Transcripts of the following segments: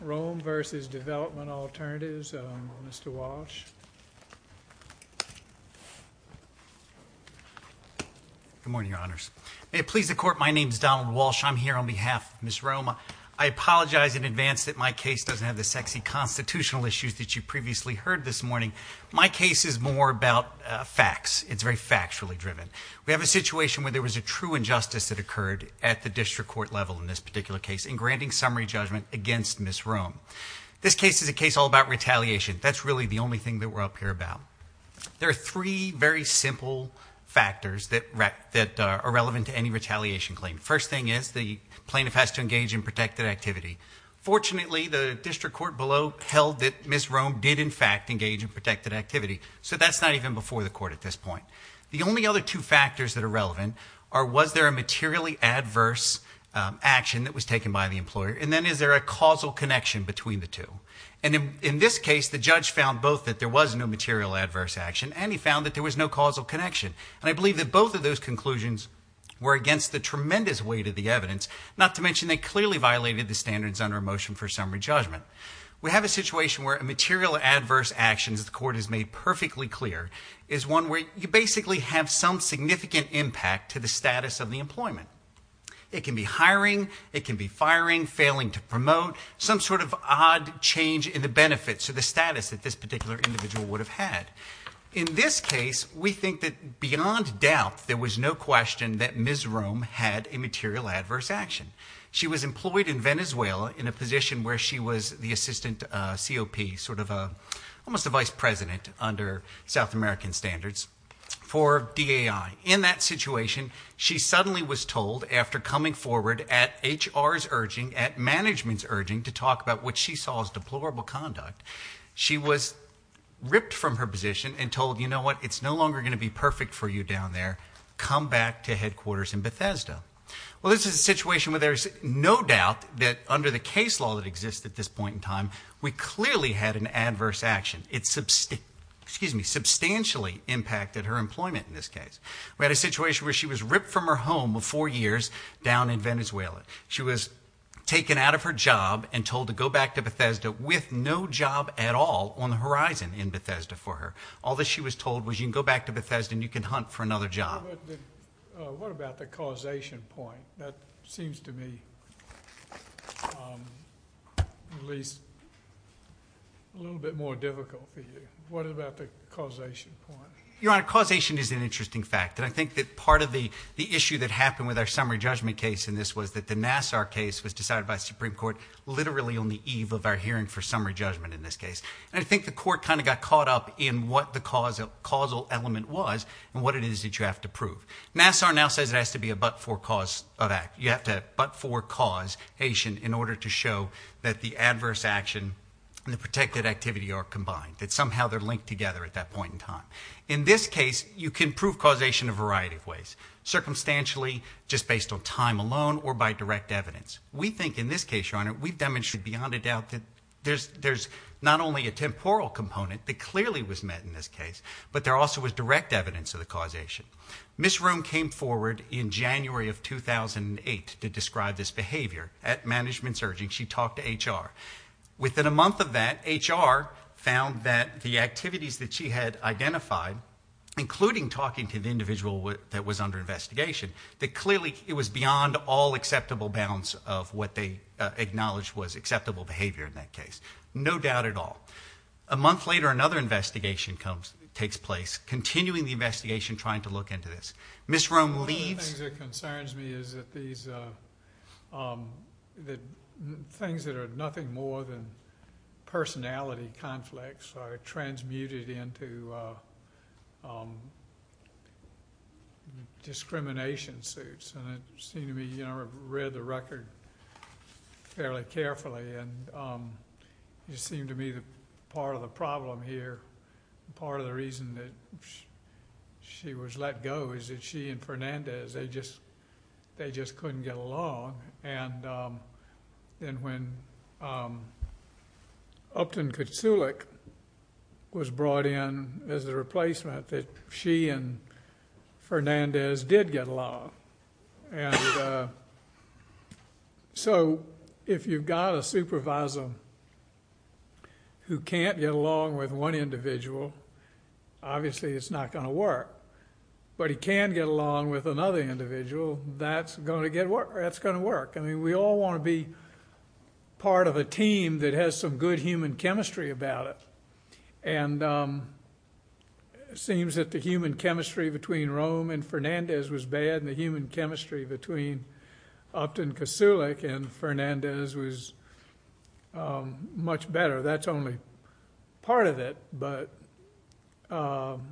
Rome v. Development Alternatives, Mr. Walsh. Good morning, Your Honors. May it please the Court, my name is Donald Walsh. I'm here on behalf of Ms. Rome. I apologize in advance that my case doesn't have the sexy constitutional issues that you previously heard this morning. My case is more about facts. It's very factually driven. We have a situation where there was a true injustice that occurred at the district court level in this particular case in granting summary judgment against Ms. Rome. This case is a case all about retaliation. That's really the only thing that we're up here about. There are three very simple factors that are relevant to any retaliation claim. First thing is the plaintiff has to engage in protected activity. Fortunately, the district court below held that Ms. Rome did, in fact, engage in protected activity. So that's not even before the court at this point. The only other two factors that are relevant are was there a materially adverse action that was taken by the employer and then is there a causal connection between the two. And in this case, the judge found both that there was no material adverse action and he found that there was no causal connection. And I believe that both of those conclusions were against the tremendous weight of the evidence, not to mention they clearly violated the standards under a motion for summary judgment. We have a situation where a material adverse action that the court has made perfectly clear is one where you basically have some significant impact to the status of the employment. It can be hiring. It can be firing, failing to promote, some sort of odd change in the benefits or the status that this particular individual would have had. In this case, we think that beyond doubt there was no question that Ms. Rome had a material adverse action. She was employed in Venezuela in a position where she was the assistant COP, sort of almost a vice president under South American standards for DAI. In that situation, she suddenly was told after coming forward at HR's urging, at management's urging to talk about what she saw as deplorable conduct, she was ripped from her position and told, you know what, it's no longer going to be perfect for you down there. Come back to headquarters in Bethesda. Well, this is a situation where there's no doubt that under the case law that exists at this point in time, we clearly had an adverse action. It substantially impacted her employment in this case. We had a situation where she was ripped from her home of four years down in Venezuela. She was taken out of her job and told to go back to Bethesda with no job at all on the horizon in Bethesda for her. All that she was told was you can go back to Bethesda and you can hunt for another job. What about the causation point? That seems to me at least a little bit more difficult for you. What about the causation point? Your Honor, causation is an interesting fact. And I think that part of the issue that happened with our summary judgment case in this was that the Nassar case was decided by the Supreme Court literally on the eve of our hearing for summary judgment in this case. And I think the court kind of got caught up in what the causal element was and what it is that you have to prove. Nassar now says it has to be a but-for cause of action. You have to but-for cause action in order to show that the adverse action and the protected activity are combined, that somehow they're linked together at that point in time. In this case, you can prove causation a variety of ways, circumstantially, just based on time alone, or by direct evidence. We think in this case, Your Honor, we've demonstrated beyond a doubt that there's not only a temporal component that clearly was met in this case, but there also was direct evidence of the causation. Ms. Roome came forward in January of 2008 to describe this behavior. At management's urging, she talked to HR. Within a month of that, HR found that the activities that she had identified, including talking to the individual that was under investigation, that clearly it was beyond all acceptable bounds of what they acknowledged was acceptable behavior in that case. No doubt at all. A month later, another investigation takes place, continuing the investigation, trying to look into this. Ms. Roome leaves. One of the things that concerns me is that these things that are nothing more than personality conflicts are transmuted into discrimination suits. And it seemed to me, Your Honor, I've read the record fairly carefully, and it seemed to me that part of the problem here, part of the reason that she was let go, is that she and Fernandez, they just couldn't get along. And then when Upton Kutzulek was brought in as a replacement, that she and Fernandez did get along. And so if you've got a supervisor who can't get along with one individual, but he can get along with another individual, that's going to work. I mean, we all want to be part of a team that has some good human chemistry about it. And it seems that the human chemistry between Roome and Fernandez was bad, and the human chemistry between Upton Kutzulek and Fernandez was much better. That's only part of it, but that's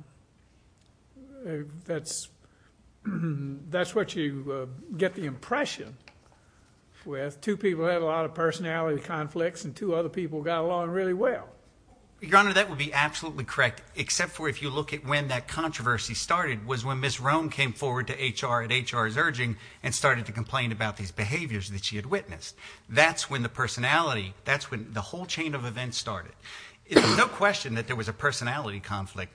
what you get the impression with. Two people had a lot of personality conflicts, and two other people got along really well. Your Honor, that would be absolutely correct, except for if you look at when that controversy started, was when Ms. Roome came forward to HR at HR's urging and started to complain about these behaviors that she had witnessed. That's when the personality, that's when the whole chain of events started. It's no question that there was a personality conflict.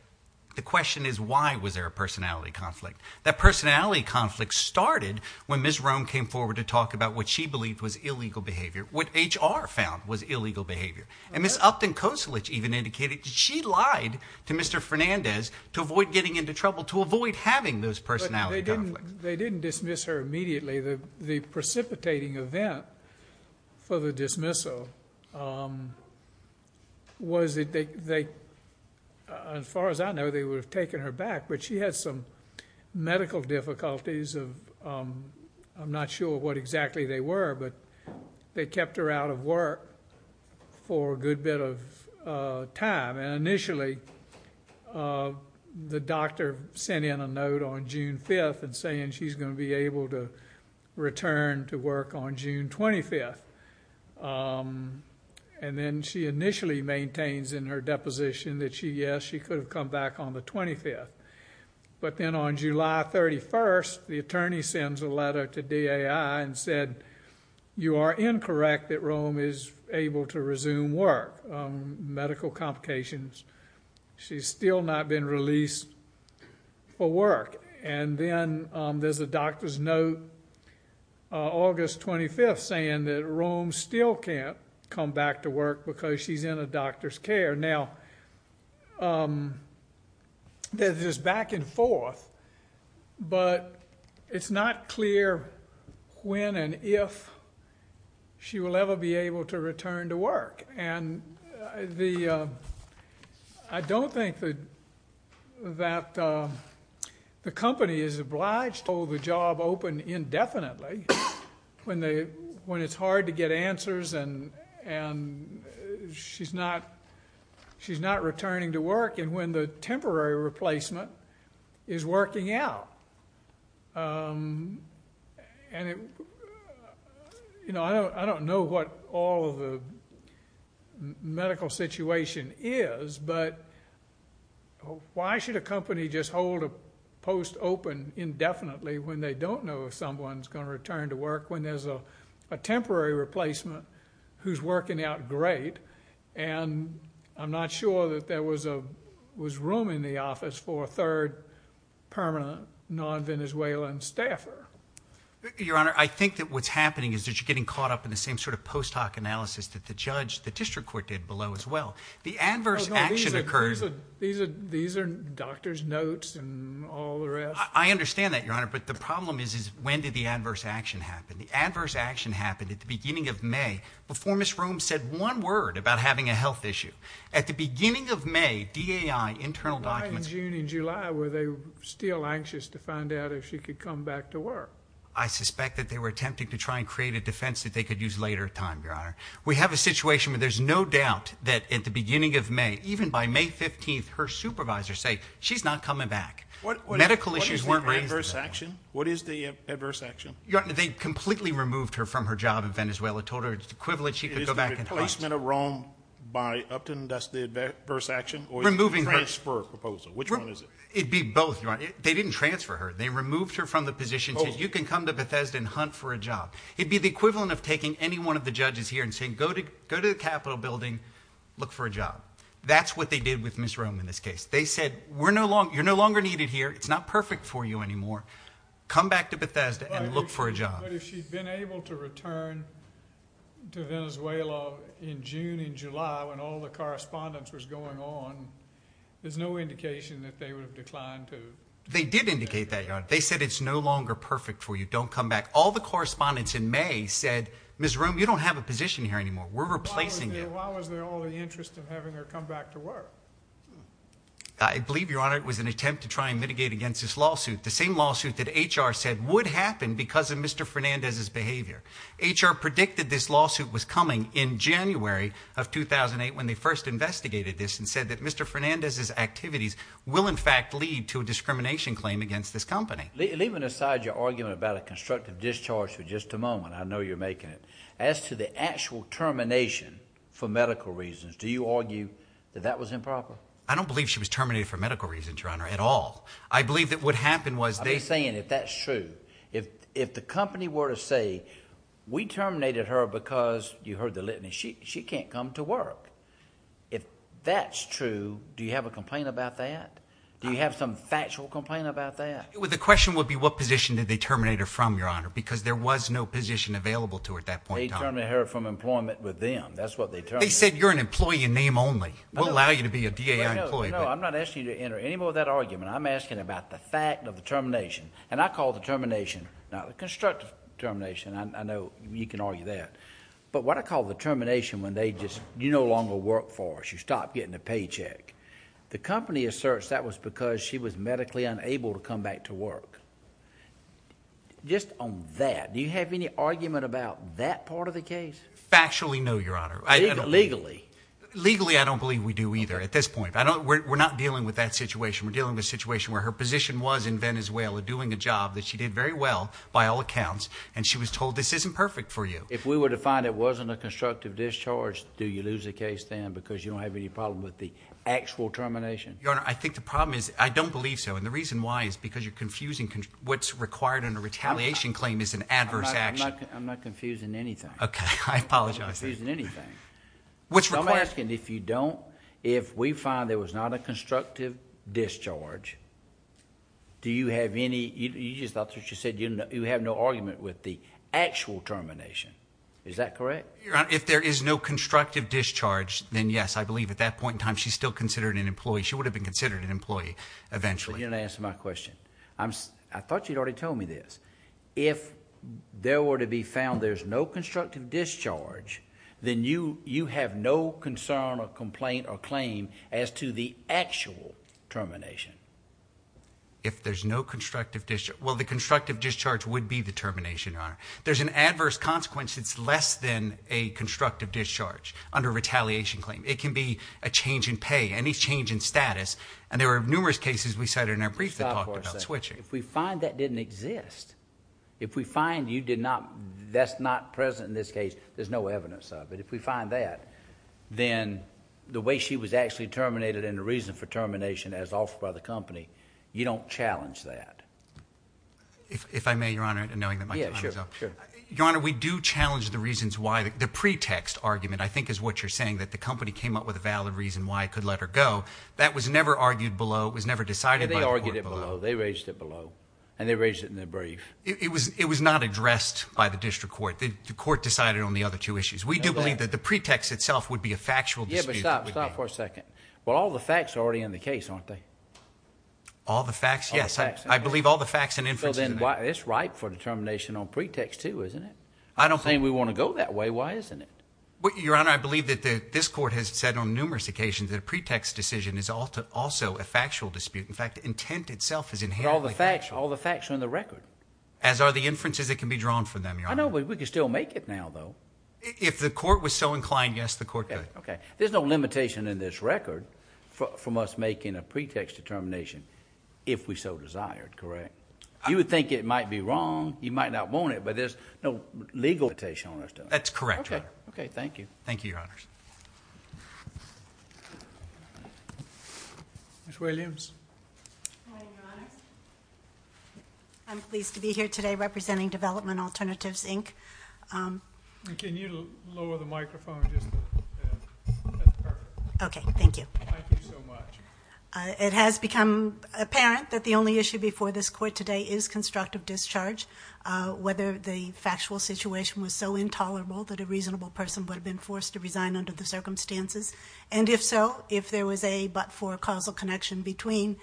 The question is why was there a personality conflict. That personality conflict started when Ms. Roome came forward to talk about what she believed was illegal behavior, what HR found was illegal behavior. And Ms. Upton Kutzulek even indicated that she lied to Mr. Fernandez to avoid getting into trouble, to avoid having those personality conflicts. They didn't dismiss her immediately. The precipitating event for the dismissal was that they, as far as I know, they would have taken her back, but she had some medical difficulties. I'm not sure what exactly they were, but they kept her out of work for a good bit of time. Initially, the doctor sent in a note on June 5th and saying she's going to be able to return to work on June 25th. And then she initially maintains in her deposition that, yes, she could have come back on the 25th. But then on July 31st, the attorney sends a letter to DAI and said, you are incorrect that Roome is able to resume work. Medical complications. She's still not been released for work. And then there's a doctor's note August 25th saying that Roome still can't come back to work because she's in a doctor's care. Now, there's this back and forth, but it's not clear when and if she will ever be able to return to work. And I don't think that the company is obliged to hold the job open indefinitely when it's hard to get answers and she's not returning to work and when the temporary replacement is working out. I don't know what all of the medical situation is, but why should a company just hold a post open indefinitely when they don't know if someone's going to return to work when there's a temporary replacement who's working out great? And I'm not sure that there was room in the office for a third permanent non-Venezuelan staffer. Your Honor, I think that what's happening is that you're getting caught up in the same sort of post hoc analysis that the judge, the district court did below as well. The adverse action occurs. These are doctor's notes and all the rest. I understand that, Your Honor, but the problem is when did the adverse action happen? The adverse action happened at the beginning of May before Ms. Rome said one word about having a health issue. At the beginning of May, DAI internal documents... Why in June and July were they still anxious to find out if she could come back to work? I suspect that they were attempting to try and create a defense that they could use later in time, Your Honor. We have a situation where there's no doubt that at the beginning of May, even by May 15th, her supervisors say she's not coming back. Medical issues weren't raised then. What is the adverse action? They completely removed her from her job in Venezuela, told her it's the equivalent she could go back and find. Is it a replacement of Rome by Upton, that's the adverse action? Or is it a transfer proposal? Which one is it? It'd be both, Your Honor. They didn't transfer her. They removed her from the position, said you can come to Bethesda and hunt for a job. It'd be the equivalent of taking any one of the judges here and saying, go to the Capitol building, look for a job. That's what they did with Ms. Rome in this case. They said, you're no longer needed here, it's not perfect for you anymore, come back to Bethesda and look for a job. But if she'd been able to return to Venezuela in June, in July, when all the correspondence was going on, there's no indication that they would have declined to take her. They did indicate that, Your Honor. They said it's no longer perfect for you, don't come back. All the correspondence in May said, Ms. Rome, you don't have a position here anymore. We're replacing you. So why was there all the interest in having her come back to work? I believe, Your Honor, it was an attempt to try and mitigate against this lawsuit, the same lawsuit that HR said would happen because of Mr. Fernandez's behavior. HR predicted this lawsuit was coming in January of 2008 when they first investigated this and said that Mr. Fernandez's activities will, in fact, lead to a discrimination claim against this company. Leaving aside your argument about a constructive discharge for just a moment, I know you're making it, as to the actual termination for medical reasons, do you argue that that was improper? I don't believe she was terminated for medical reasons, Your Honor, at all. I believe that what happened was they— I'm saying if that's true, if the company were to say, we terminated her because you heard the litany, she can't come to work. If that's true, do you have a complaint about that? Do you have some factual complaint about that? The question would be what position did they terminate her from, Your Honor, because there was no position available to her at that point in time. They terminated her from employment with them. That's what they terminated her from. They said you're an employee in name only. We'll allow you to be a DAI employee. No, I'm not asking you to enter any more of that argument. I'm asking about the fact of the termination. And I call the termination not the constructive termination. I know you can argue that. But what I call the termination when they just, you no longer work for us. You stop getting a paycheck. The company asserts that was because she was medically unable to come back to work. Just on that, do you have any argument about that part of the case? Factually, no, Your Honor. Legally? Legally, I don't believe we do either at this point. We're not dealing with that situation. We're dealing with a situation where her position was in Venezuela, doing a job that she did very well by all accounts, and she was told this isn't perfect for you. If we were to find it wasn't a constructive discharge, do you lose the case then because you don't have any problem with the actual termination? Your Honor, I think the problem is I don't believe so. And the reason why is because you're confusing what's required in a retaliation claim is an adverse action. I'm not confusing anything. I apologize. I'm not confusing anything. What's required? I'm asking if you don't, if we find there was not a constructive discharge, do you have any, that's what you said, you have no argument with the actual termination. Is that correct? Your Honor, if there is no constructive discharge, then yes, I believe at that point in time she's still considered an employee. She would have been considered an employee eventually. You didn't answer my question. I thought you'd already told me this. If there were to be found there's no constructive discharge, then you have no concern or complaint or claim as to the actual termination. If there's no constructive discharge. Well, the constructive discharge would be the termination, Your Honor. There's an adverse consequence that's less than a constructive discharge under a retaliation claim. It can be a change in pay, any change in status. And there were numerous cases we cited in our brief that talked about switching. If we find that didn't exist, if we find you did not, that's not present in this case, there's no evidence of it. If we find that, then the way she was actually terminated and the reason for termination as offered by the company, you don't challenge that. If I may, Your Honor, knowing that my time is up. Yes, sure. Your Honor, we do challenge the reasons why, the pretext argument I think is what you're saying, that the company came up with a valid reason why it could let her go. That was never argued below. It was never decided by the court below. They argued it below. They raised it below. And they raised it in their brief. It was not addressed by the district court. The court decided on the other two issues. We do believe that the pretext itself would be a factual dispute. Yeah, but stop. Stop for a second. Well, all the facts are already in the case, aren't they? All the facts? Yes. I believe all the facts and inferences are there. So then it's ripe for determination on pretext, too, isn't it? I don't think we want to go that way. Why isn't it? Your Honor, I believe that this court has said on numerous occasions that a pretext decision is also a factual dispute. In fact, intent itself is inherently factual. But all the facts are in the record. As are the inferences that can be drawn from them, Your Honor. I know, but we could still make it now, though. If the court was so inclined, yes, the court could. Okay. There's no limitation in this record from us making a pretext determination if we so desired, correct? You would think it might be wrong. You might not want it, but there's no legal limitation on us doing it. That's correct, Your Honor. Okay. Thank you. Thank you, Your Honors. Ms. Williams. Good morning, Your Honors. I'm pleased to be here today representing Development Alternatives, Inc. Can you lower the microphone just a bit? That's perfect. Okay. Thank you. Thank you so much. It has become apparent that the only issue before this court today is constructive discharge. Whether the factual situation was so intolerable that a reasonable person would have been forced to resign under the circumstances. And if so, if there was a but-for causal connection between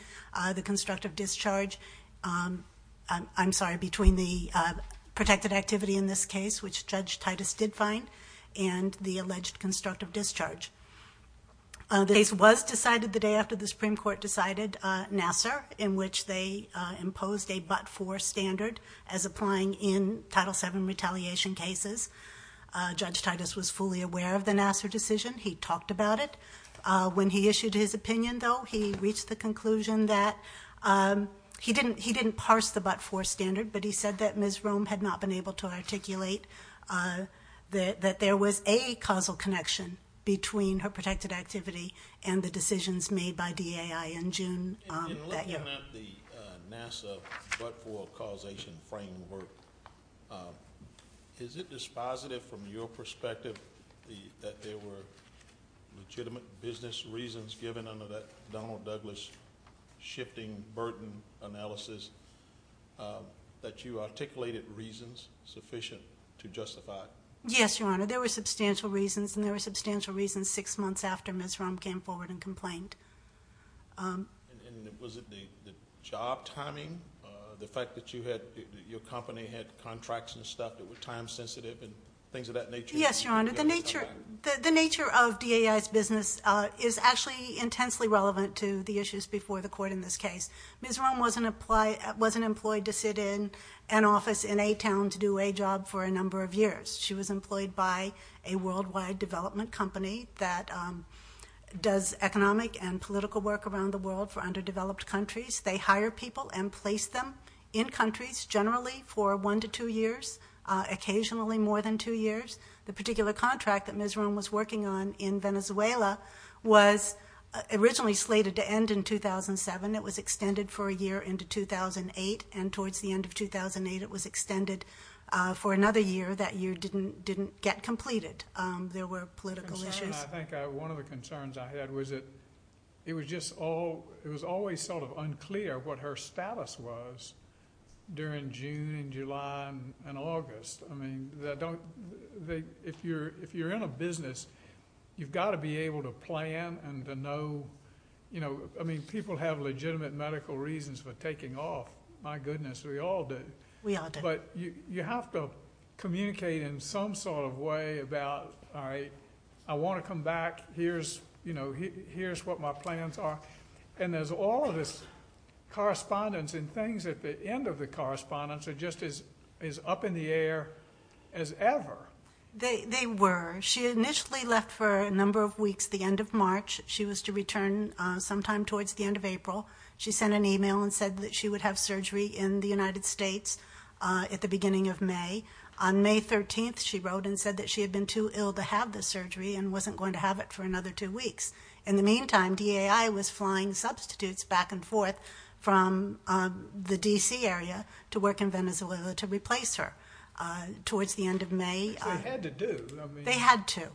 the constructive discharge, I'm sorry, between the protected activity in this case, which Judge Titus did find, and the alleged constructive discharge. The case was decided the day after the Supreme Court decided Nassar, in which they imposed a but-for standard as applying in Title VII retaliation cases. Judge Titus was fully aware of the Nassar decision. He talked about it. When he issued his opinion, though, he reached the conclusion that he didn't parse the but-for standard, but he said that Ms. Rome had not been able to articulate that there was a causal connection between her protected activity and the decisions made by DAI in June that year. In looking at the Nassar but-for causation framework, is it dispositive from your perspective that there were legitimate business reasons given under that Donald Douglas shifting burden analysis that you articulated reasons sufficient to justify? Yes, Your Honor. There were substantial reasons, and there were substantial reasons six months after Ms. Rome came forward and complained. And was it the job timing, the fact that your company had contracts and stuff that were time sensitive and things of that nature? Yes, Your Honor. The nature of DAI's business is actually intensely relevant to the issues before the court in this case. Ms. Rome wasn't employed to sit in an office in a town to do a job for a number of years. She was employed by a worldwide development company that does economic and political work around the world for underdeveloped countries. They hire people and place them in countries generally for one to two years, occasionally more than two years. The particular contract that Ms. Rome was working on in Venezuela was originally slated to end in 2007. It was extended for a year into 2008, and towards the end of 2008, it was extended for another year. That year didn't get completed. There were political issues. I think one of the concerns I had was that it was always sort of unclear what her status was during June and July and August. I mean, if you're in a business, you've got to be able to plan and to know. I mean, people have legitimate medical reasons for taking off. My goodness, we all do. We all do. But you have to communicate in some sort of way about, all right, I want to come back. Here's what my plans are. And there's all this correspondence and things at the end of the correspondence are just as up in the air as ever. They were. She initially left for a number of weeks at the end of March. She was to return sometime towards the end of April. She sent an email and said that she would have surgery in the United States at the beginning of May. On May 13th, she wrote and said that she had been too ill to have the surgery and wasn't going to have it for another two weeks. In the meantime, DAI was flying substitutes back and forth from the D.C. area to work in Venezuela to replace her. Towards the end of May they had to.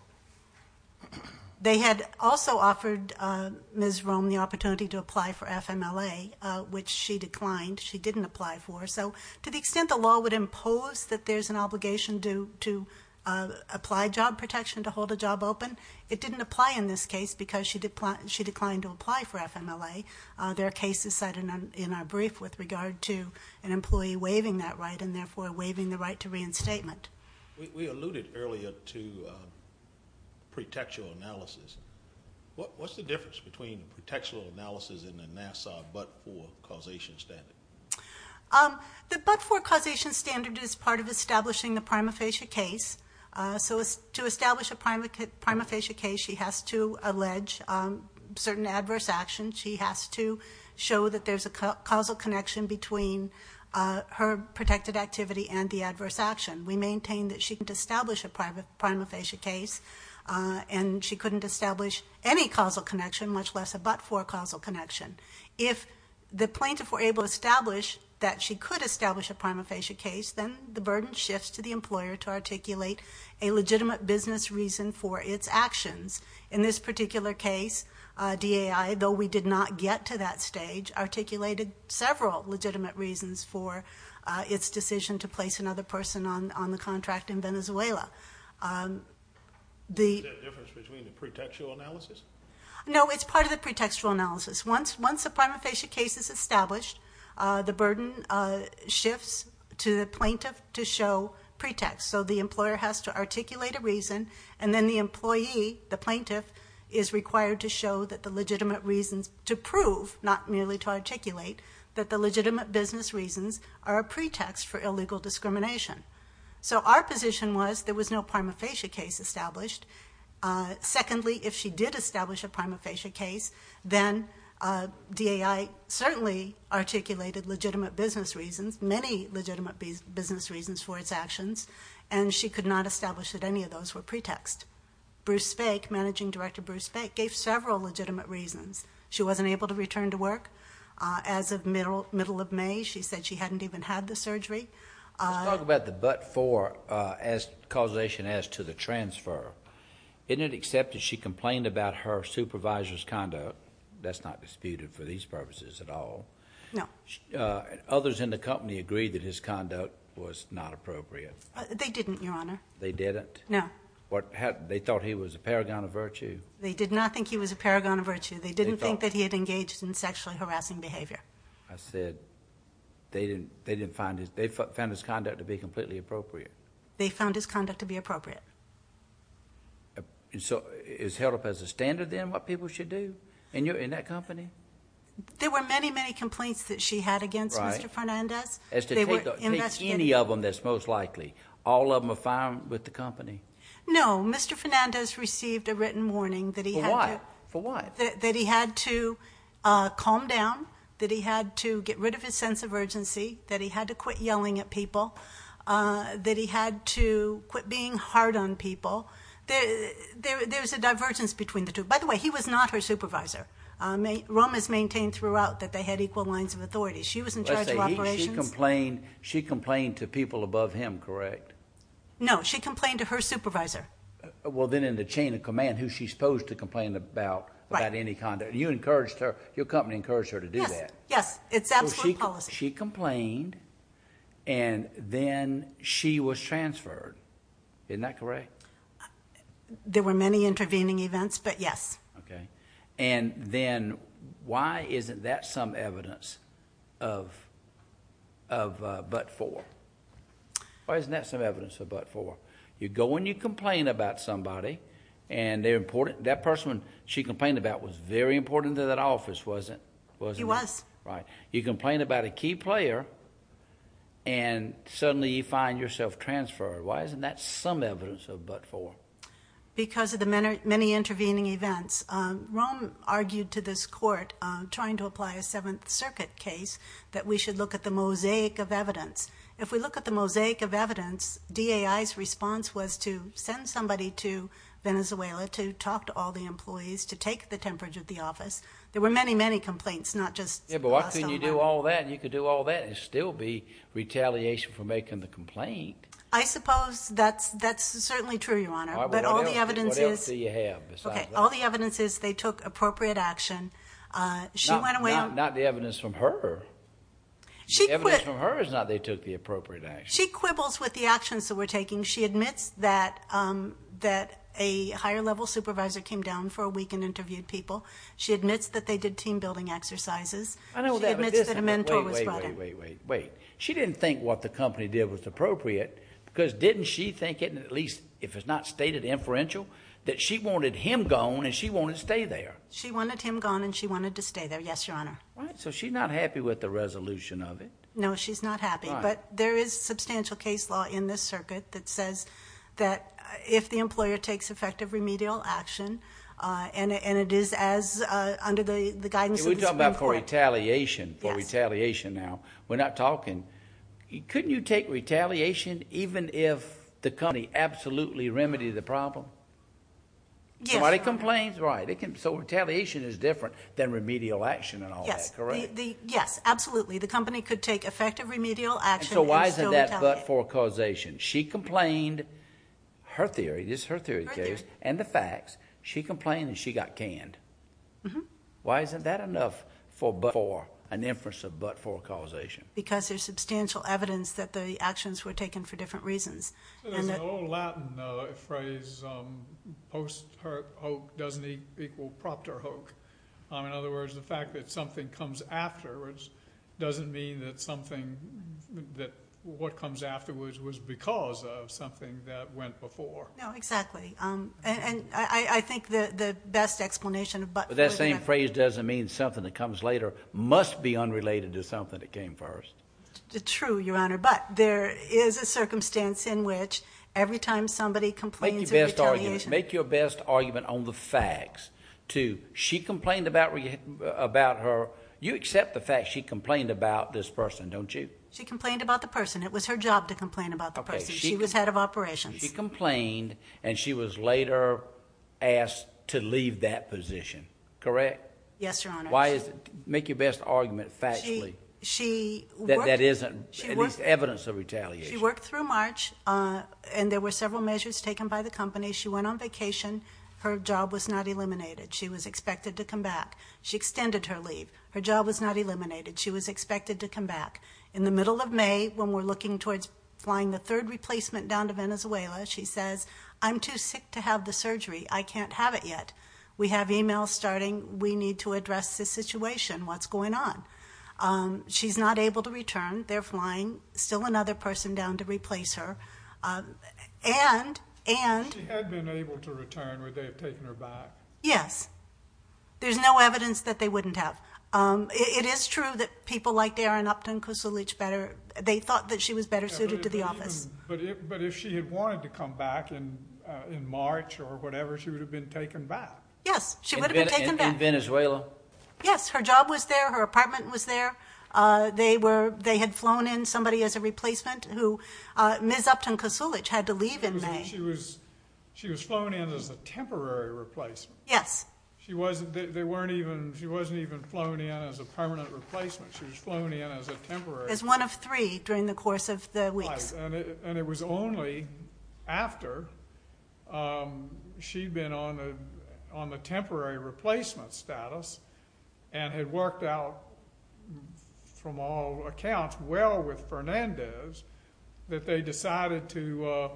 They had also offered Ms. Rome the opportunity to apply for FMLA, which she declined. She didn't apply for. So to the extent the law would impose that there's an obligation to apply job protection to hold a job open, it didn't apply in this case because she declined to apply for FMLA. There are cases set in our brief with regard to an employee waiving that right and therefore waiving the right to reinstatement. We alluded earlier to pretextual analysis. What's the difference between pretextual analysis and the Nassau but-for causation standard? The but-for causation standard is part of establishing the prima facie case. So to establish a prima facie case, she has to allege certain adverse actions. She has to show that there's a causal connection between her protected activity and the adverse action. We maintain that she can't establish a prima facie case, and she couldn't establish any causal connection, much less a but-for causal connection. If the plaintiff were able to establish that she could establish a prima facie case, then the burden shifts to the employer to articulate a legitimate business reason for its actions. In this particular case, DAI, though we did not get to that stage, articulated several legitimate reasons for its decision to place another person on the contract in Venezuela. Is there a difference between the pretextual analysis? No, it's part of the pretextual analysis. Once a prima facie case is established, the burden shifts to the plaintiff to show pretext. So the employer has to articulate a reason, and then the employee, the plaintiff, is required to show that the legitimate reasons to prove, not merely to articulate, that the legitimate business reasons are a pretext for illegal discrimination. So our position was there was no prima facie case established. Secondly, if she did establish a prima facie case, then DAI certainly articulated legitimate business reasons, many legitimate business reasons for its actions, and she could not establish that any of those were pretext. Bruce Fake, managing director Bruce Fake, gave several legitimate reasons. She wasn't able to return to work. As of middle of May, she said she hadn't even had the surgery. Let's talk about the but for causation as to the transfer. In it, except that she complained about her supervisor's conduct. That's not disputed for these purposes at all. No. Others in the company agreed that his conduct was not appropriate. They didn't, Your Honor. They didn't? No. They thought he was a paragon of virtue? They did not think he was a paragon of virtue. They didn't think that he had engaged in sexually harassing behavior. I said they didn't find his conduct to be completely appropriate. They found his conduct to be appropriate. So it was held up as a standard then what people should do in that company? There were many, many complaints that she had against Mr. Fernandez. As to take any of them, that's most likely. All of them are found with the company? No. Mr. Fernandez received a written warning that he had to calm down, that he had to get rid of his sense of urgency, that he had to quit yelling at people, that he had to quit being hard on people. There's a divergence between the two. By the way, he was not her supervisor. Rome has maintained throughout that they had equal lines of authority. She was in charge of operations. She complained to people above him, correct? No. She complained to her supervisor. Well, then in the chain of command, who's she supposed to complain about? Right. You encouraged her. Your company encouraged her to do that. Yes. It's absolute policy. She complained and then she was transferred. Isn't that correct? There were many intervening events, but yes. Okay. Then why isn't that some evidence of but-for? Why isn't that some evidence of but-for? You go and you complain about somebody and they're important. That person she complained about was very important to that office, wasn't he? He was. Right. You complain about a key player and suddenly you find yourself transferred. Why isn't that some evidence of but-for? Because of the many intervening events. Rome argued to this court, trying to apply a Seventh Circuit case, that we should look at the mosaic of evidence. If we look at the mosaic of evidence, DAI's response was to send somebody to Venezuela to talk to all the employees, to take the temperature of the office. There were many, many complaints, not just the hostile environment. Yeah, but why couldn't you do all that? You could do all that and still be retaliation for making the complaint. I suppose that's certainly true, Your Honor. But all the evidence is they took appropriate action. Not the evidence from her. The evidence from her is not they took the appropriate action. She quibbles with the actions that we're taking. She admits that a higher-level supervisor came down for a week and interviewed people. She admits that they did team-building exercises. She admits that a mentor was brought in. Wait, wait, wait. She didn't think what the company did was appropriate because didn't she think it, at least if it's not stated inferential, that she wanted him gone and she wanted to stay there? She wanted him gone and she wanted to stay there, yes, Your Honor. So she's not happy with the resolution of it. No, she's not happy. But there is substantial case law in this circuit that says that if the employer takes effective remedial action and it is as under the guidance of the Supreme Court. We're talking about retaliation, for retaliation now. We're not talking. Couldn't you take retaliation even if the company absolutely remedied the problem? Somebody complains, right. So retaliation is different than remedial action and all that, correct? Yes, absolutely. The company could take effective remedial action and still retaliate. So why isn't that but-for causation? She complained, her theory, this is her theory, and the facts. She complained and she got canned. Why isn't that enough for but-for, an inference of but-for causation? Because there's substantial evidence that the actions were taken for different reasons. There's an old Latin phrase, post hoc doesn't equal propter hoc. In other words, the fact that something comes afterwards doesn't mean that something, that what comes afterwards was because of something that went before. No, exactly. And I think the best explanation of but-for. But that same phrase doesn't mean something that comes later must be unrelated to something that came first. True, Your Honor. But there is a circumstance in which every time somebody complains of retaliation. Make your best argument on the facts to she complained about her. You accept the fact she complained about this person, don't you? She complained about the person. It was her job to complain about the person. She was head of operations. She complained and she was later asked to leave that position, correct? Yes, Your Honor. Why is it, make your best argument factually that that isn't at least evidence of retaliation. She worked through March and there were several measures taken by the company. She went on vacation. Her job was not eliminated. She was expected to come back. She extended her leave. Her job was not eliminated. She was expected to come back. In the middle of May, when we're looking towards flying the third replacement down to Venezuela, she says, I'm too sick to have the surgery. I can't have it yet. We have emails starting. We need to address this situation. What's going on? She's not able to return. They're flying still another person down to replace her. And, and. If she had been able to return, would they have taken her back? Yes. There's no evidence that they wouldn't have. It is true that people like Darren Upton Kosulich better, they thought that she was better suited to the office. But if she had wanted to come back in March or whatever, she would have been taken back. Yes, she would have been taken back. In Venezuela? Yes, her job was there. Her apartment was there. They were, they had flown in somebody as a replacement who Ms. Upton Kosulich had to leave in May. She was, she was flown in as a temporary replacement. Yes. She wasn't, they weren't even, she wasn't even flown in as a permanent replacement. She was flown in as a temporary. As one of three during the course of the weeks. And it was only after she'd been on the, on the temporary replacement status and had worked out from all accounts well with Fernandez that they decided to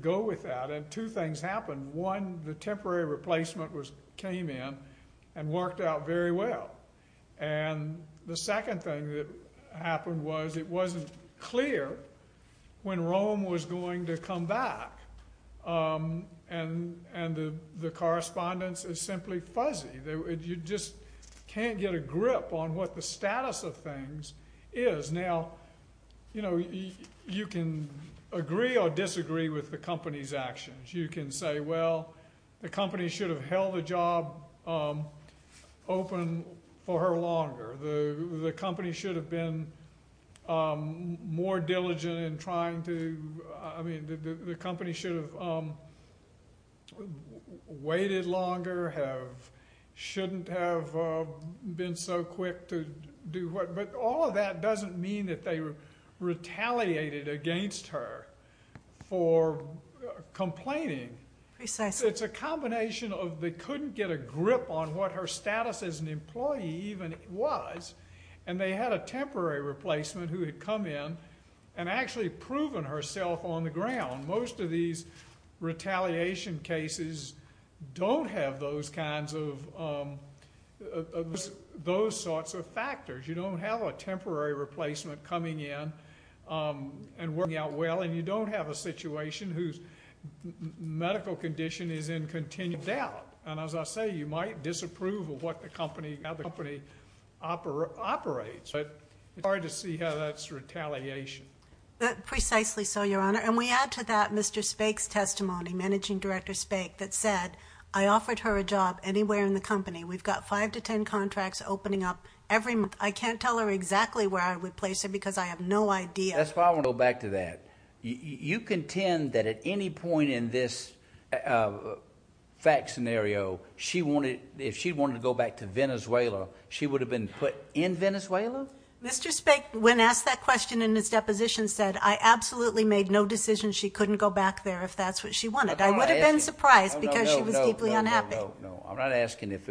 go with that. And two things happened. One, the temporary replacement was, came in and worked out very well. And the second thing that happened was it wasn't clear when Rome was going to come back. And, and the correspondence is simply fuzzy. You just can't get a grip on what the status of things is. Now, you know, you can agree or disagree with the company's actions. You can say, well, the company should have held the job open for her longer. The company should have been more diligent in trying to, I mean, the company should have waited longer, have, shouldn't have been so quick to do what. But all of that doesn't mean that they retaliated against her for complaining. It's a combination of they couldn't get a grip on what her status as an employee even was. And they had a temporary replacement who had come in and actually proven herself on the ground. Most of these retaliation cases don't have those kinds of, those sorts of factors. You don't have a temporary replacement coming in and working out well. And you don't have a situation whose medical condition is in continued doubt. And as I say, you might disapprove of what the company, how the company operates. But it's hard to see how that's retaliation. Precisely so, Your Honor. And we add to that Mr. Spake's testimony, Managing Director Spake, that said, I offered her a job anywhere in the company. We've got five to ten contracts opening up every month. I can't tell her exactly where I would place her because I have no idea. That's why I want to go back to that. You contend that at any point in this fact scenario, she wanted, if she wanted to go back to Venezuela, she would have been put in Venezuela? Mr. Spake, when asked that question in his deposition, said, I absolutely made no decision she couldn't go back there if that's what she wanted. I would have been surprised because she was deeply unhappy. No, I'm not asking if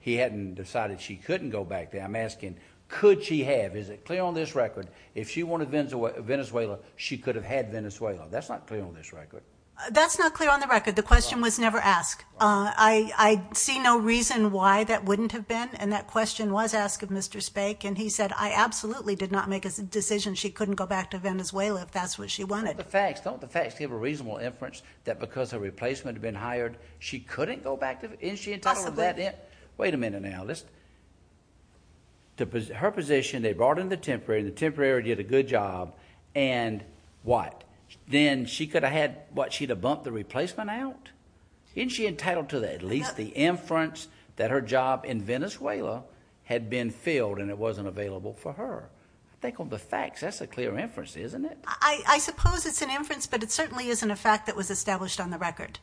he hadn't decided she couldn't go back there. I'm asking, could she have? Is it clear on this record, if she wanted Venezuela, she could have had Venezuela? That's not clear on this record. That's not clear on the record. The question was never asked. I see no reason why that wouldn't have been. And that question was asked of Mr. Spake. And he said, I absolutely did not make a decision she couldn't go back to Venezuela if that's what she wanted. Don't the facts give a reasonable inference that because her replacement had been hired, she couldn't go back? Isn't she entitled to that? Possibly. Wait a minute now. Her position, they brought in the temporary, the temporary did a good job, and what? Then she could have had, what, she'd have bumped the replacement out? Isn't she entitled to at least the inference that her job in Venezuela had been filled and it wasn't available for her? I think on the facts, that's a clear inference, isn't it? I suppose it's an inference, but it certainly isn't a fact that was established on the record.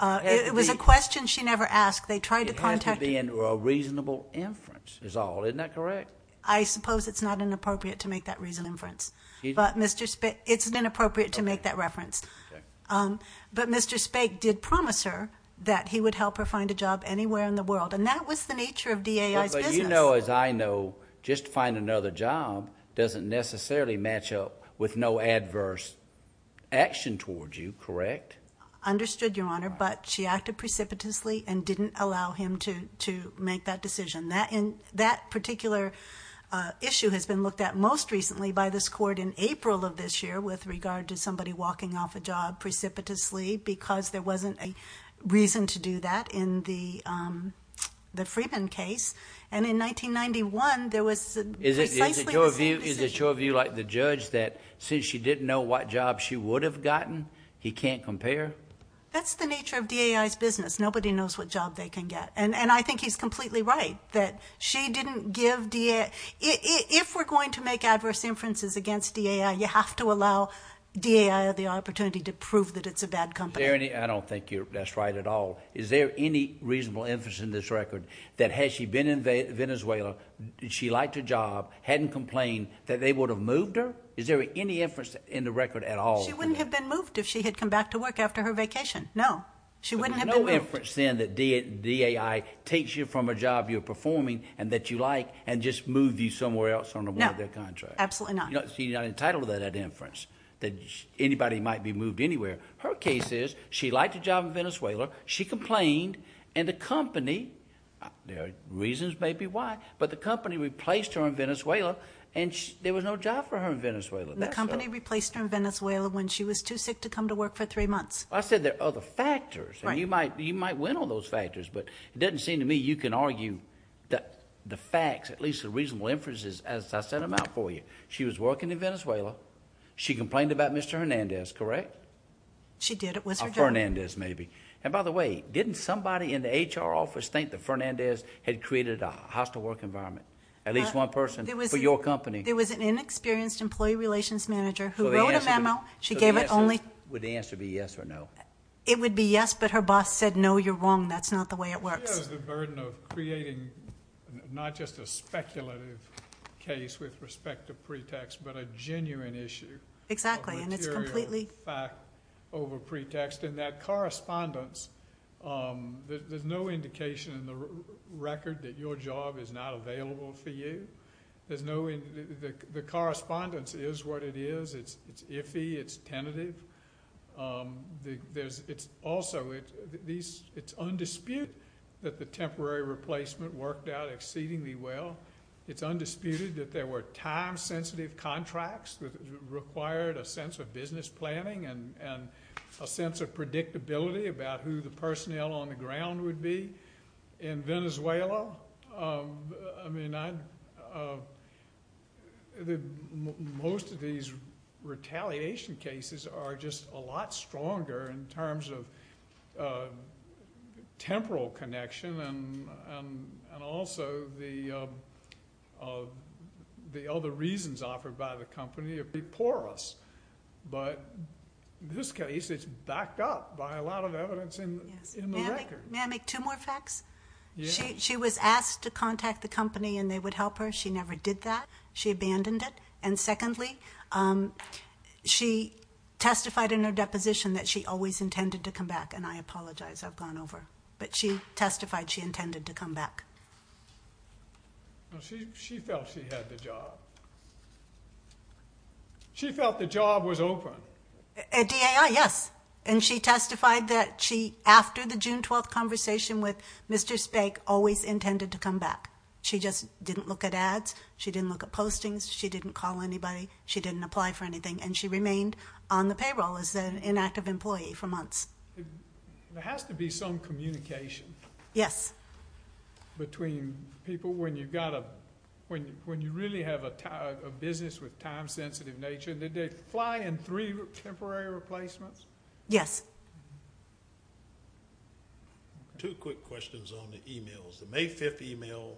It was a question she never asked. They tried to contact her. It had to be a reasonable inference is all. Isn't that correct? I suppose it's not inappropriate to make that inference. But Mr. Spake, it's inappropriate to make that reference. But Mr. Spake did promise her that he would help her find a job anywhere in the world. And that was the nature of DAI's business. You know, as I know, just to find another job doesn't necessarily match up with no adverse action towards you, correct? Understood, Your Honor, but she acted precipitously and didn't allow him to make that decision. That particular issue has been looked at most recently by this court in April of this year with regard to somebody walking off a job precipitously because there wasn't a reason to do that in the Freeman case. And in 1991, there was precisely the same decision. Is it your view, like the judge, that since she didn't know what job she would have gotten, he can't compare? That's the nature of DAI's business. Nobody knows what job they can get. And I think he's completely right that she didn't give DAI. If we're going to make adverse inferences against DAI, you have to allow DAI the opportunity to prove that it's a bad company. I don't think that's right at all. Is there any reasonable inference in this record that had she been in Venezuela, she liked her job, hadn't complained, that they would have moved her? Is there any inference in the record at all? She wouldn't have been moved if she had come back to work after her vacation. No. She wouldn't have been moved. There's no inference then that DAI takes you from a job you're performing and that you like and just moves you somewhere else on a one-off contract. No, absolutely not. You're not entitled to that inference, that anybody might be moved anywhere. Her case is she liked a job in Venezuela, she complained, and the company, there are reasons maybe why, but the company replaced her in Venezuela and there was no job for her in Venezuela. The company replaced her in Venezuela when she was too sick to come to work for three months. I said there are other factors. You might win on those factors, but it doesn't seem to me you can argue that the facts, at least the reasonable inferences, as I set them out for you, she was working in Venezuela, she complained about Mr. Hernandez, correct? She did. It was her job. Or Fernandez maybe. And by the way, didn't somebody in the HR office think that Fernandez had created a hostile work environment? At least one person for your company. There was an inexperienced employee relations manager who wrote a memo. She gave it only. Would the answer be yes or no? It would be yes, but her boss said no, you're wrong, that's not the way it works. She has the burden of creating not just a speculative case with respect to pretext, but a genuine issue. A material fact over pretext. And that correspondence, there's no indication in the record that your job is not available for you. The correspondence is what it is. It's iffy, it's tentative. Also, it's undisputed that the temporary replacement worked out exceedingly well. It's undisputed that there were time-sensitive contracts that required a sense of business planning and a sense of predictability about who the personnel on the ground would be. In Venezuela, most of these retaliation cases are just a lot stronger in terms of temporal connection and also the other reasons offered by the company before us. But in this case, it's backed up by a lot of evidence in the record. May I make two more facts? She was asked to contact the company and they would help her. She never did that. She abandoned it. And secondly, she testified in her deposition that she always intended to come back, and I apologize, I've gone over. But she testified she intended to come back. She felt she had the job. She felt the job was open. At DAI, yes. And she testified that she, after the June 12th conversation with Mr. Speck, always intended to come back. She just didn't look at ads. She didn't look at postings. She didn't call anybody. She didn't apply for anything. And she remained on the payroll as an inactive employee for months. There has to be some communication between people when you really have a business with time-sensitive nature. Did they fly in three temporary replacements? Yes. Two quick questions on the e-mails. The May 5th e-mail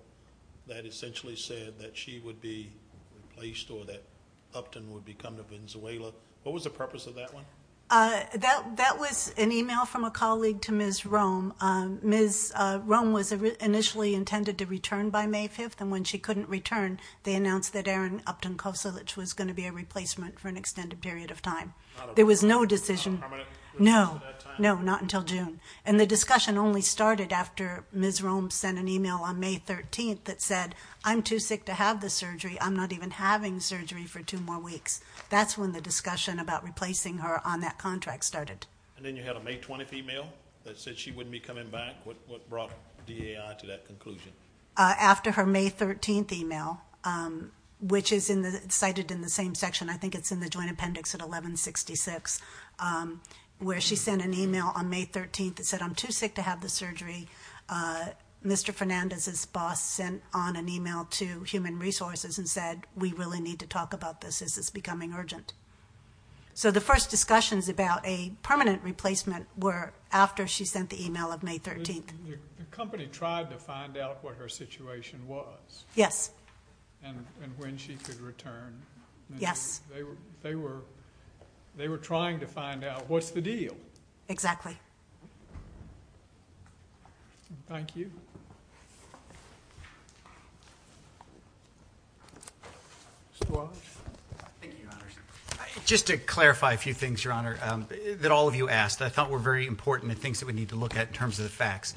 that essentially said that she would be replaced or that Upton would become the Venezuela, what was the purpose of that one? That was an e-mail from a colleague to Ms. Roem. Ms. Roem was initially intended to return by May 5th, and when she couldn't return they announced that Aaron Upton Kosulich was going to be a replacement for an extended period of time. Not a permanent replacement at that time? No, not until June. And the discussion only started after Ms. Roem sent an e-mail on May 13th that said, I'm too sick to have the surgery, I'm not even having surgery for two more weeks. That's when the discussion about replacing her on that contract started. And then you had a May 20th e-mail that said she wouldn't be coming back. What brought DAI to that conclusion? After her May 13th e-mail, which is cited in the same section, I think it's in the Joint Appendix at 1166, where she sent an e-mail on May 13th that said, I'm too sick to have the surgery. Mr. Fernandez's boss sent on an e-mail to Human Resources and said, we really need to talk about this as it's becoming urgent. So the first discussions about a permanent replacement were after she sent the e-mail of May 13th. The company tried to find out what her situation was. Yes. And when she could return. Yes. They were trying to find out, what's the deal? Exactly. Thank you. Mr. Wallace. Thank you, Your Honor. Just to clarify a few things, Your Honor, that all of you asked, I thought were very important and things that we need to look at in terms of the facts.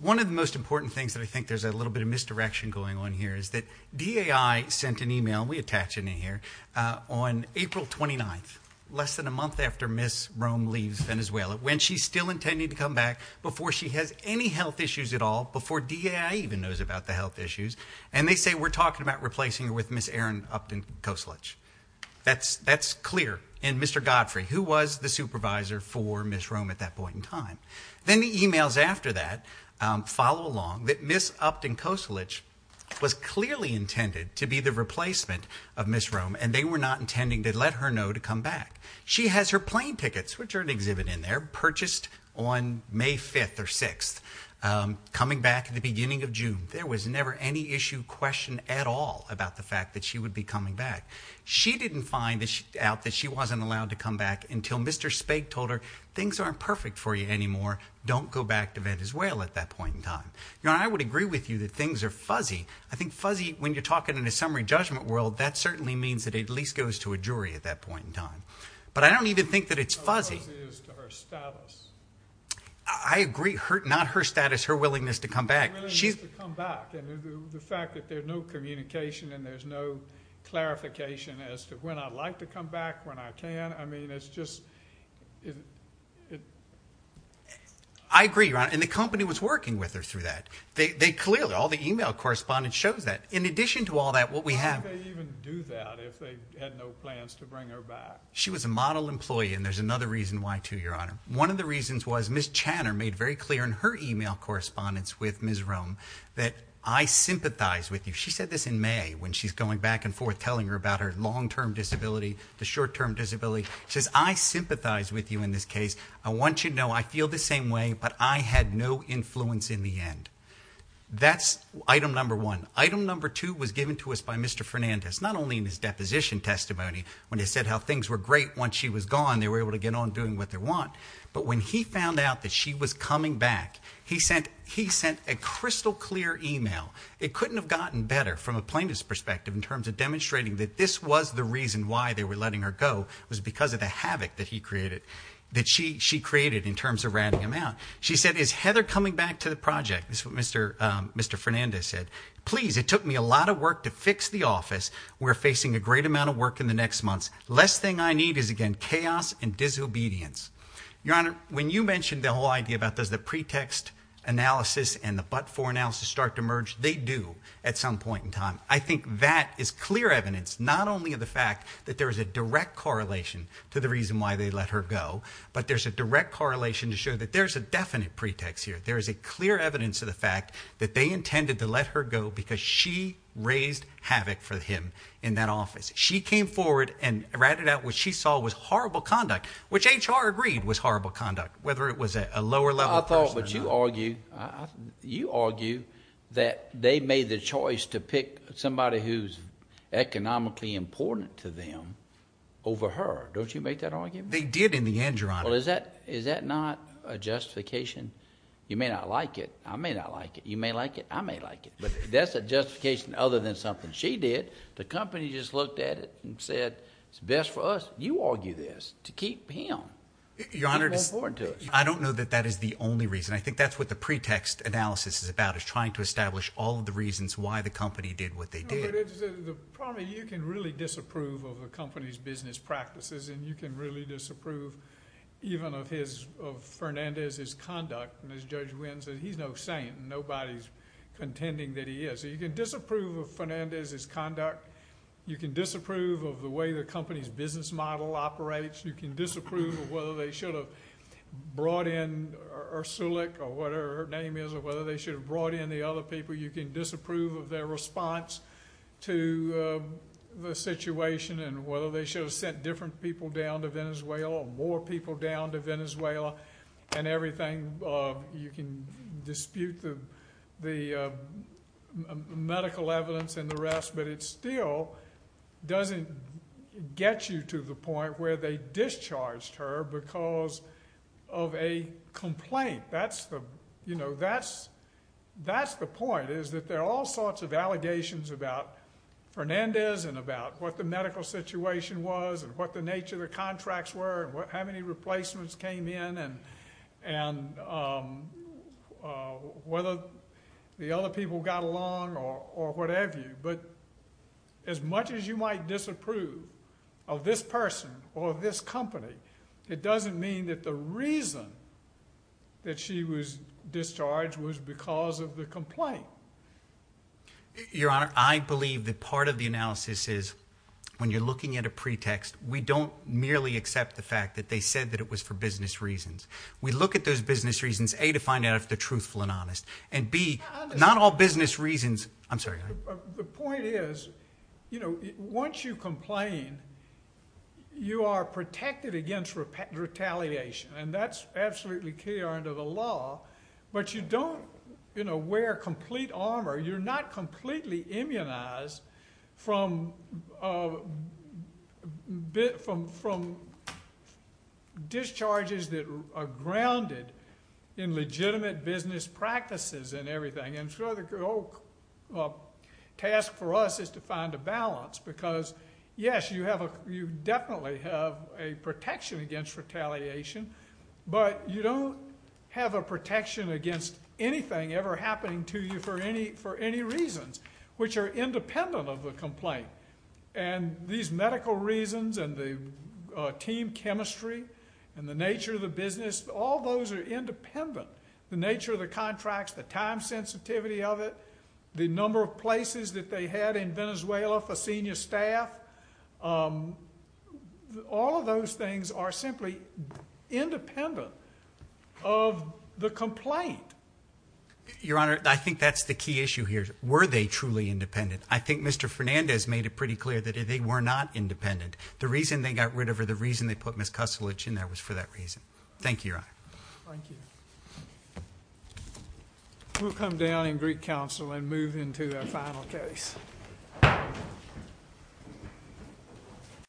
One of the most important things that I think there's a little bit of misdirection going on here is that DAI sent an e-mail, we attach an e-mail here, on April 29th, less than a month after Ms. Rome leaves Venezuela. When she's still intending to come back before she has any health issues at all, before DAI even knows about the health issues. And they say, we're talking about replacing her with Ms. Erin Upton-Kosolich. That's clear. And Mr. Godfrey, who was the supervisor for Ms. Rome at that point in time. Then the e-mails after that follow along that Ms. Upton-Kosolich was clearly intended to be the replacement of Ms. Rome. And they were not intending to let her know to come back. She has her plane tickets, which are an exhibit in there, purchased on May 5th or 6th. Coming back at the beginning of June. There was never any issue, question at all about the fact that she would be coming back. She didn't find out that she wasn't allowed to come back until Mr. Spake told her, things aren't perfect for you anymore. Don't go back to Venezuela at that point in time. Your Honor, I would agree with you that things are fuzzy. I think fuzzy, when you're talking in a summary judgment world, that certainly means that it at least goes to a jury at that point in time. But I don't even think that it's fuzzy. Her status. I agree. Not her status. Her willingness to come back. Her willingness to come back. And the fact that there's no communication and there's no clarification as to when I'd like to come back, when I can. I mean, it's just – I agree, Your Honor. And the company was working with her through that. They clearly – all the email correspondence shows that. In addition to all that, what we have – Why would they even do that if they had no plans to bring her back? She was a model employee, and there's another reason why, too, Your Honor. One of the reasons was Ms. Channer made very clear in her email correspondence with Ms. Rome that I sympathize with you. She said this in May when she's going back and forth telling her about her long-term disability, the short-term disability. She says, I sympathize with you in this case. I want you to know I feel the same way, but I had no influence in the end. That's item number one. Item number two was given to us by Mr. Fernandez, not only in his deposition testimony when he said how things were great once she was gone, they were able to get on doing what they want, but when he found out that she was coming back, he sent a crystal-clear email. It couldn't have gotten better from a plaintiff's perspective in terms of demonstrating that this was the reason why they were letting her go, it was because of the havoc that he created, that she created in terms of ratting him out. She said, is Heather coming back to the project? This is what Mr. Fernandez said. Please, it took me a lot of work to fix the office. We're facing a great amount of work in the next months. The last thing I need is, again, chaos and disobedience. Your Honor, when you mentioned the whole idea about does the pretext analysis and the but-for analysis start to merge, they do at some point in time. I think that is clear evidence not only of the fact that there is a direct correlation to the reason why they let her go, but there's a direct correlation to show that there's a definite pretext here. There is a clear evidence of the fact that they intended to let her go because she raised havoc for him in that office. She came forward and ratted out what she saw was horrible conduct, which HR agreed was horrible conduct, whether it was a lower-level person or not. You argue that they made the choice to pick somebody who's economically important to them over her. Don't you make that argument? They did in the end, Your Honor. Well, is that not a justification? You may not like it. I may not like it. You may like it. I may like it. But that's a justification other than something she did. The company just looked at it and said, it's best for us. You argue this to keep him. Your Honor, I don't know that that is the only reason. I think that's what the pretext analysis is about is trying to establish all of the reasons why the company did what they did. The problem is you can really disapprove of a company's business practices, and you can really disapprove even of Fernandez's conduct. And as Judge Wynn said, he's no saint, and nobody's contending that he is. So you can disapprove of Fernandez's conduct. You can disapprove of the way the company's business model operates. You can disapprove of whether they should have brought in Ursulic or whatever her name is or whether they should have brought in the other people. You can disapprove of their response to the situation and whether they should have sent different people down to Venezuela or more people down to Venezuela and everything. You can dispute the medical evidence and the rest, but it still doesn't get you to the point where they discharged her because of a complaint. That's the point is that there are all sorts of allegations about Fernandez and about what the medical situation was and what the nature of the contracts were and how many replacements came in and whether the other people got along or whatever. But as much as you might disapprove of this person or this company, it doesn't mean that the reason that she was discharged was because of the complaint. Your Honor, I believe that part of the analysis is when you're looking at a pretext, we don't merely accept the fact that they said that it was for business reasons. We look at those business reasons, A, to find out if they're truthful and honest, and B, not all business reasons. I'm sorry. The point is once you complain, you are protected against retaliation, and that's absolutely key under the law, but you don't wear complete armor. You're not completely immunized from discharges that are grounded in legitimate business practices and everything, and so the task for us is to find a balance because, yes, you definitely have a protection against retaliation, but you don't have a protection against anything ever happening to you for any reasons, which are independent of the complaint. And these medical reasons and the team chemistry and the nature of the business, all those are independent. The nature of the contracts, the time sensitivity of it, the number of places that they had in Venezuela for senior staff, all of those things are simply independent of the complaint. Your Honor, I think that's the key issue here. Were they truly independent? I think Mr. Fernandez made it pretty clear that they were not independent. The reason they got rid of her, the reason they put Ms. Kustelich in there, was for that reason. Thank you, Your Honor. Thank you. We'll come down in Greek Council and move into our final case. Thank you.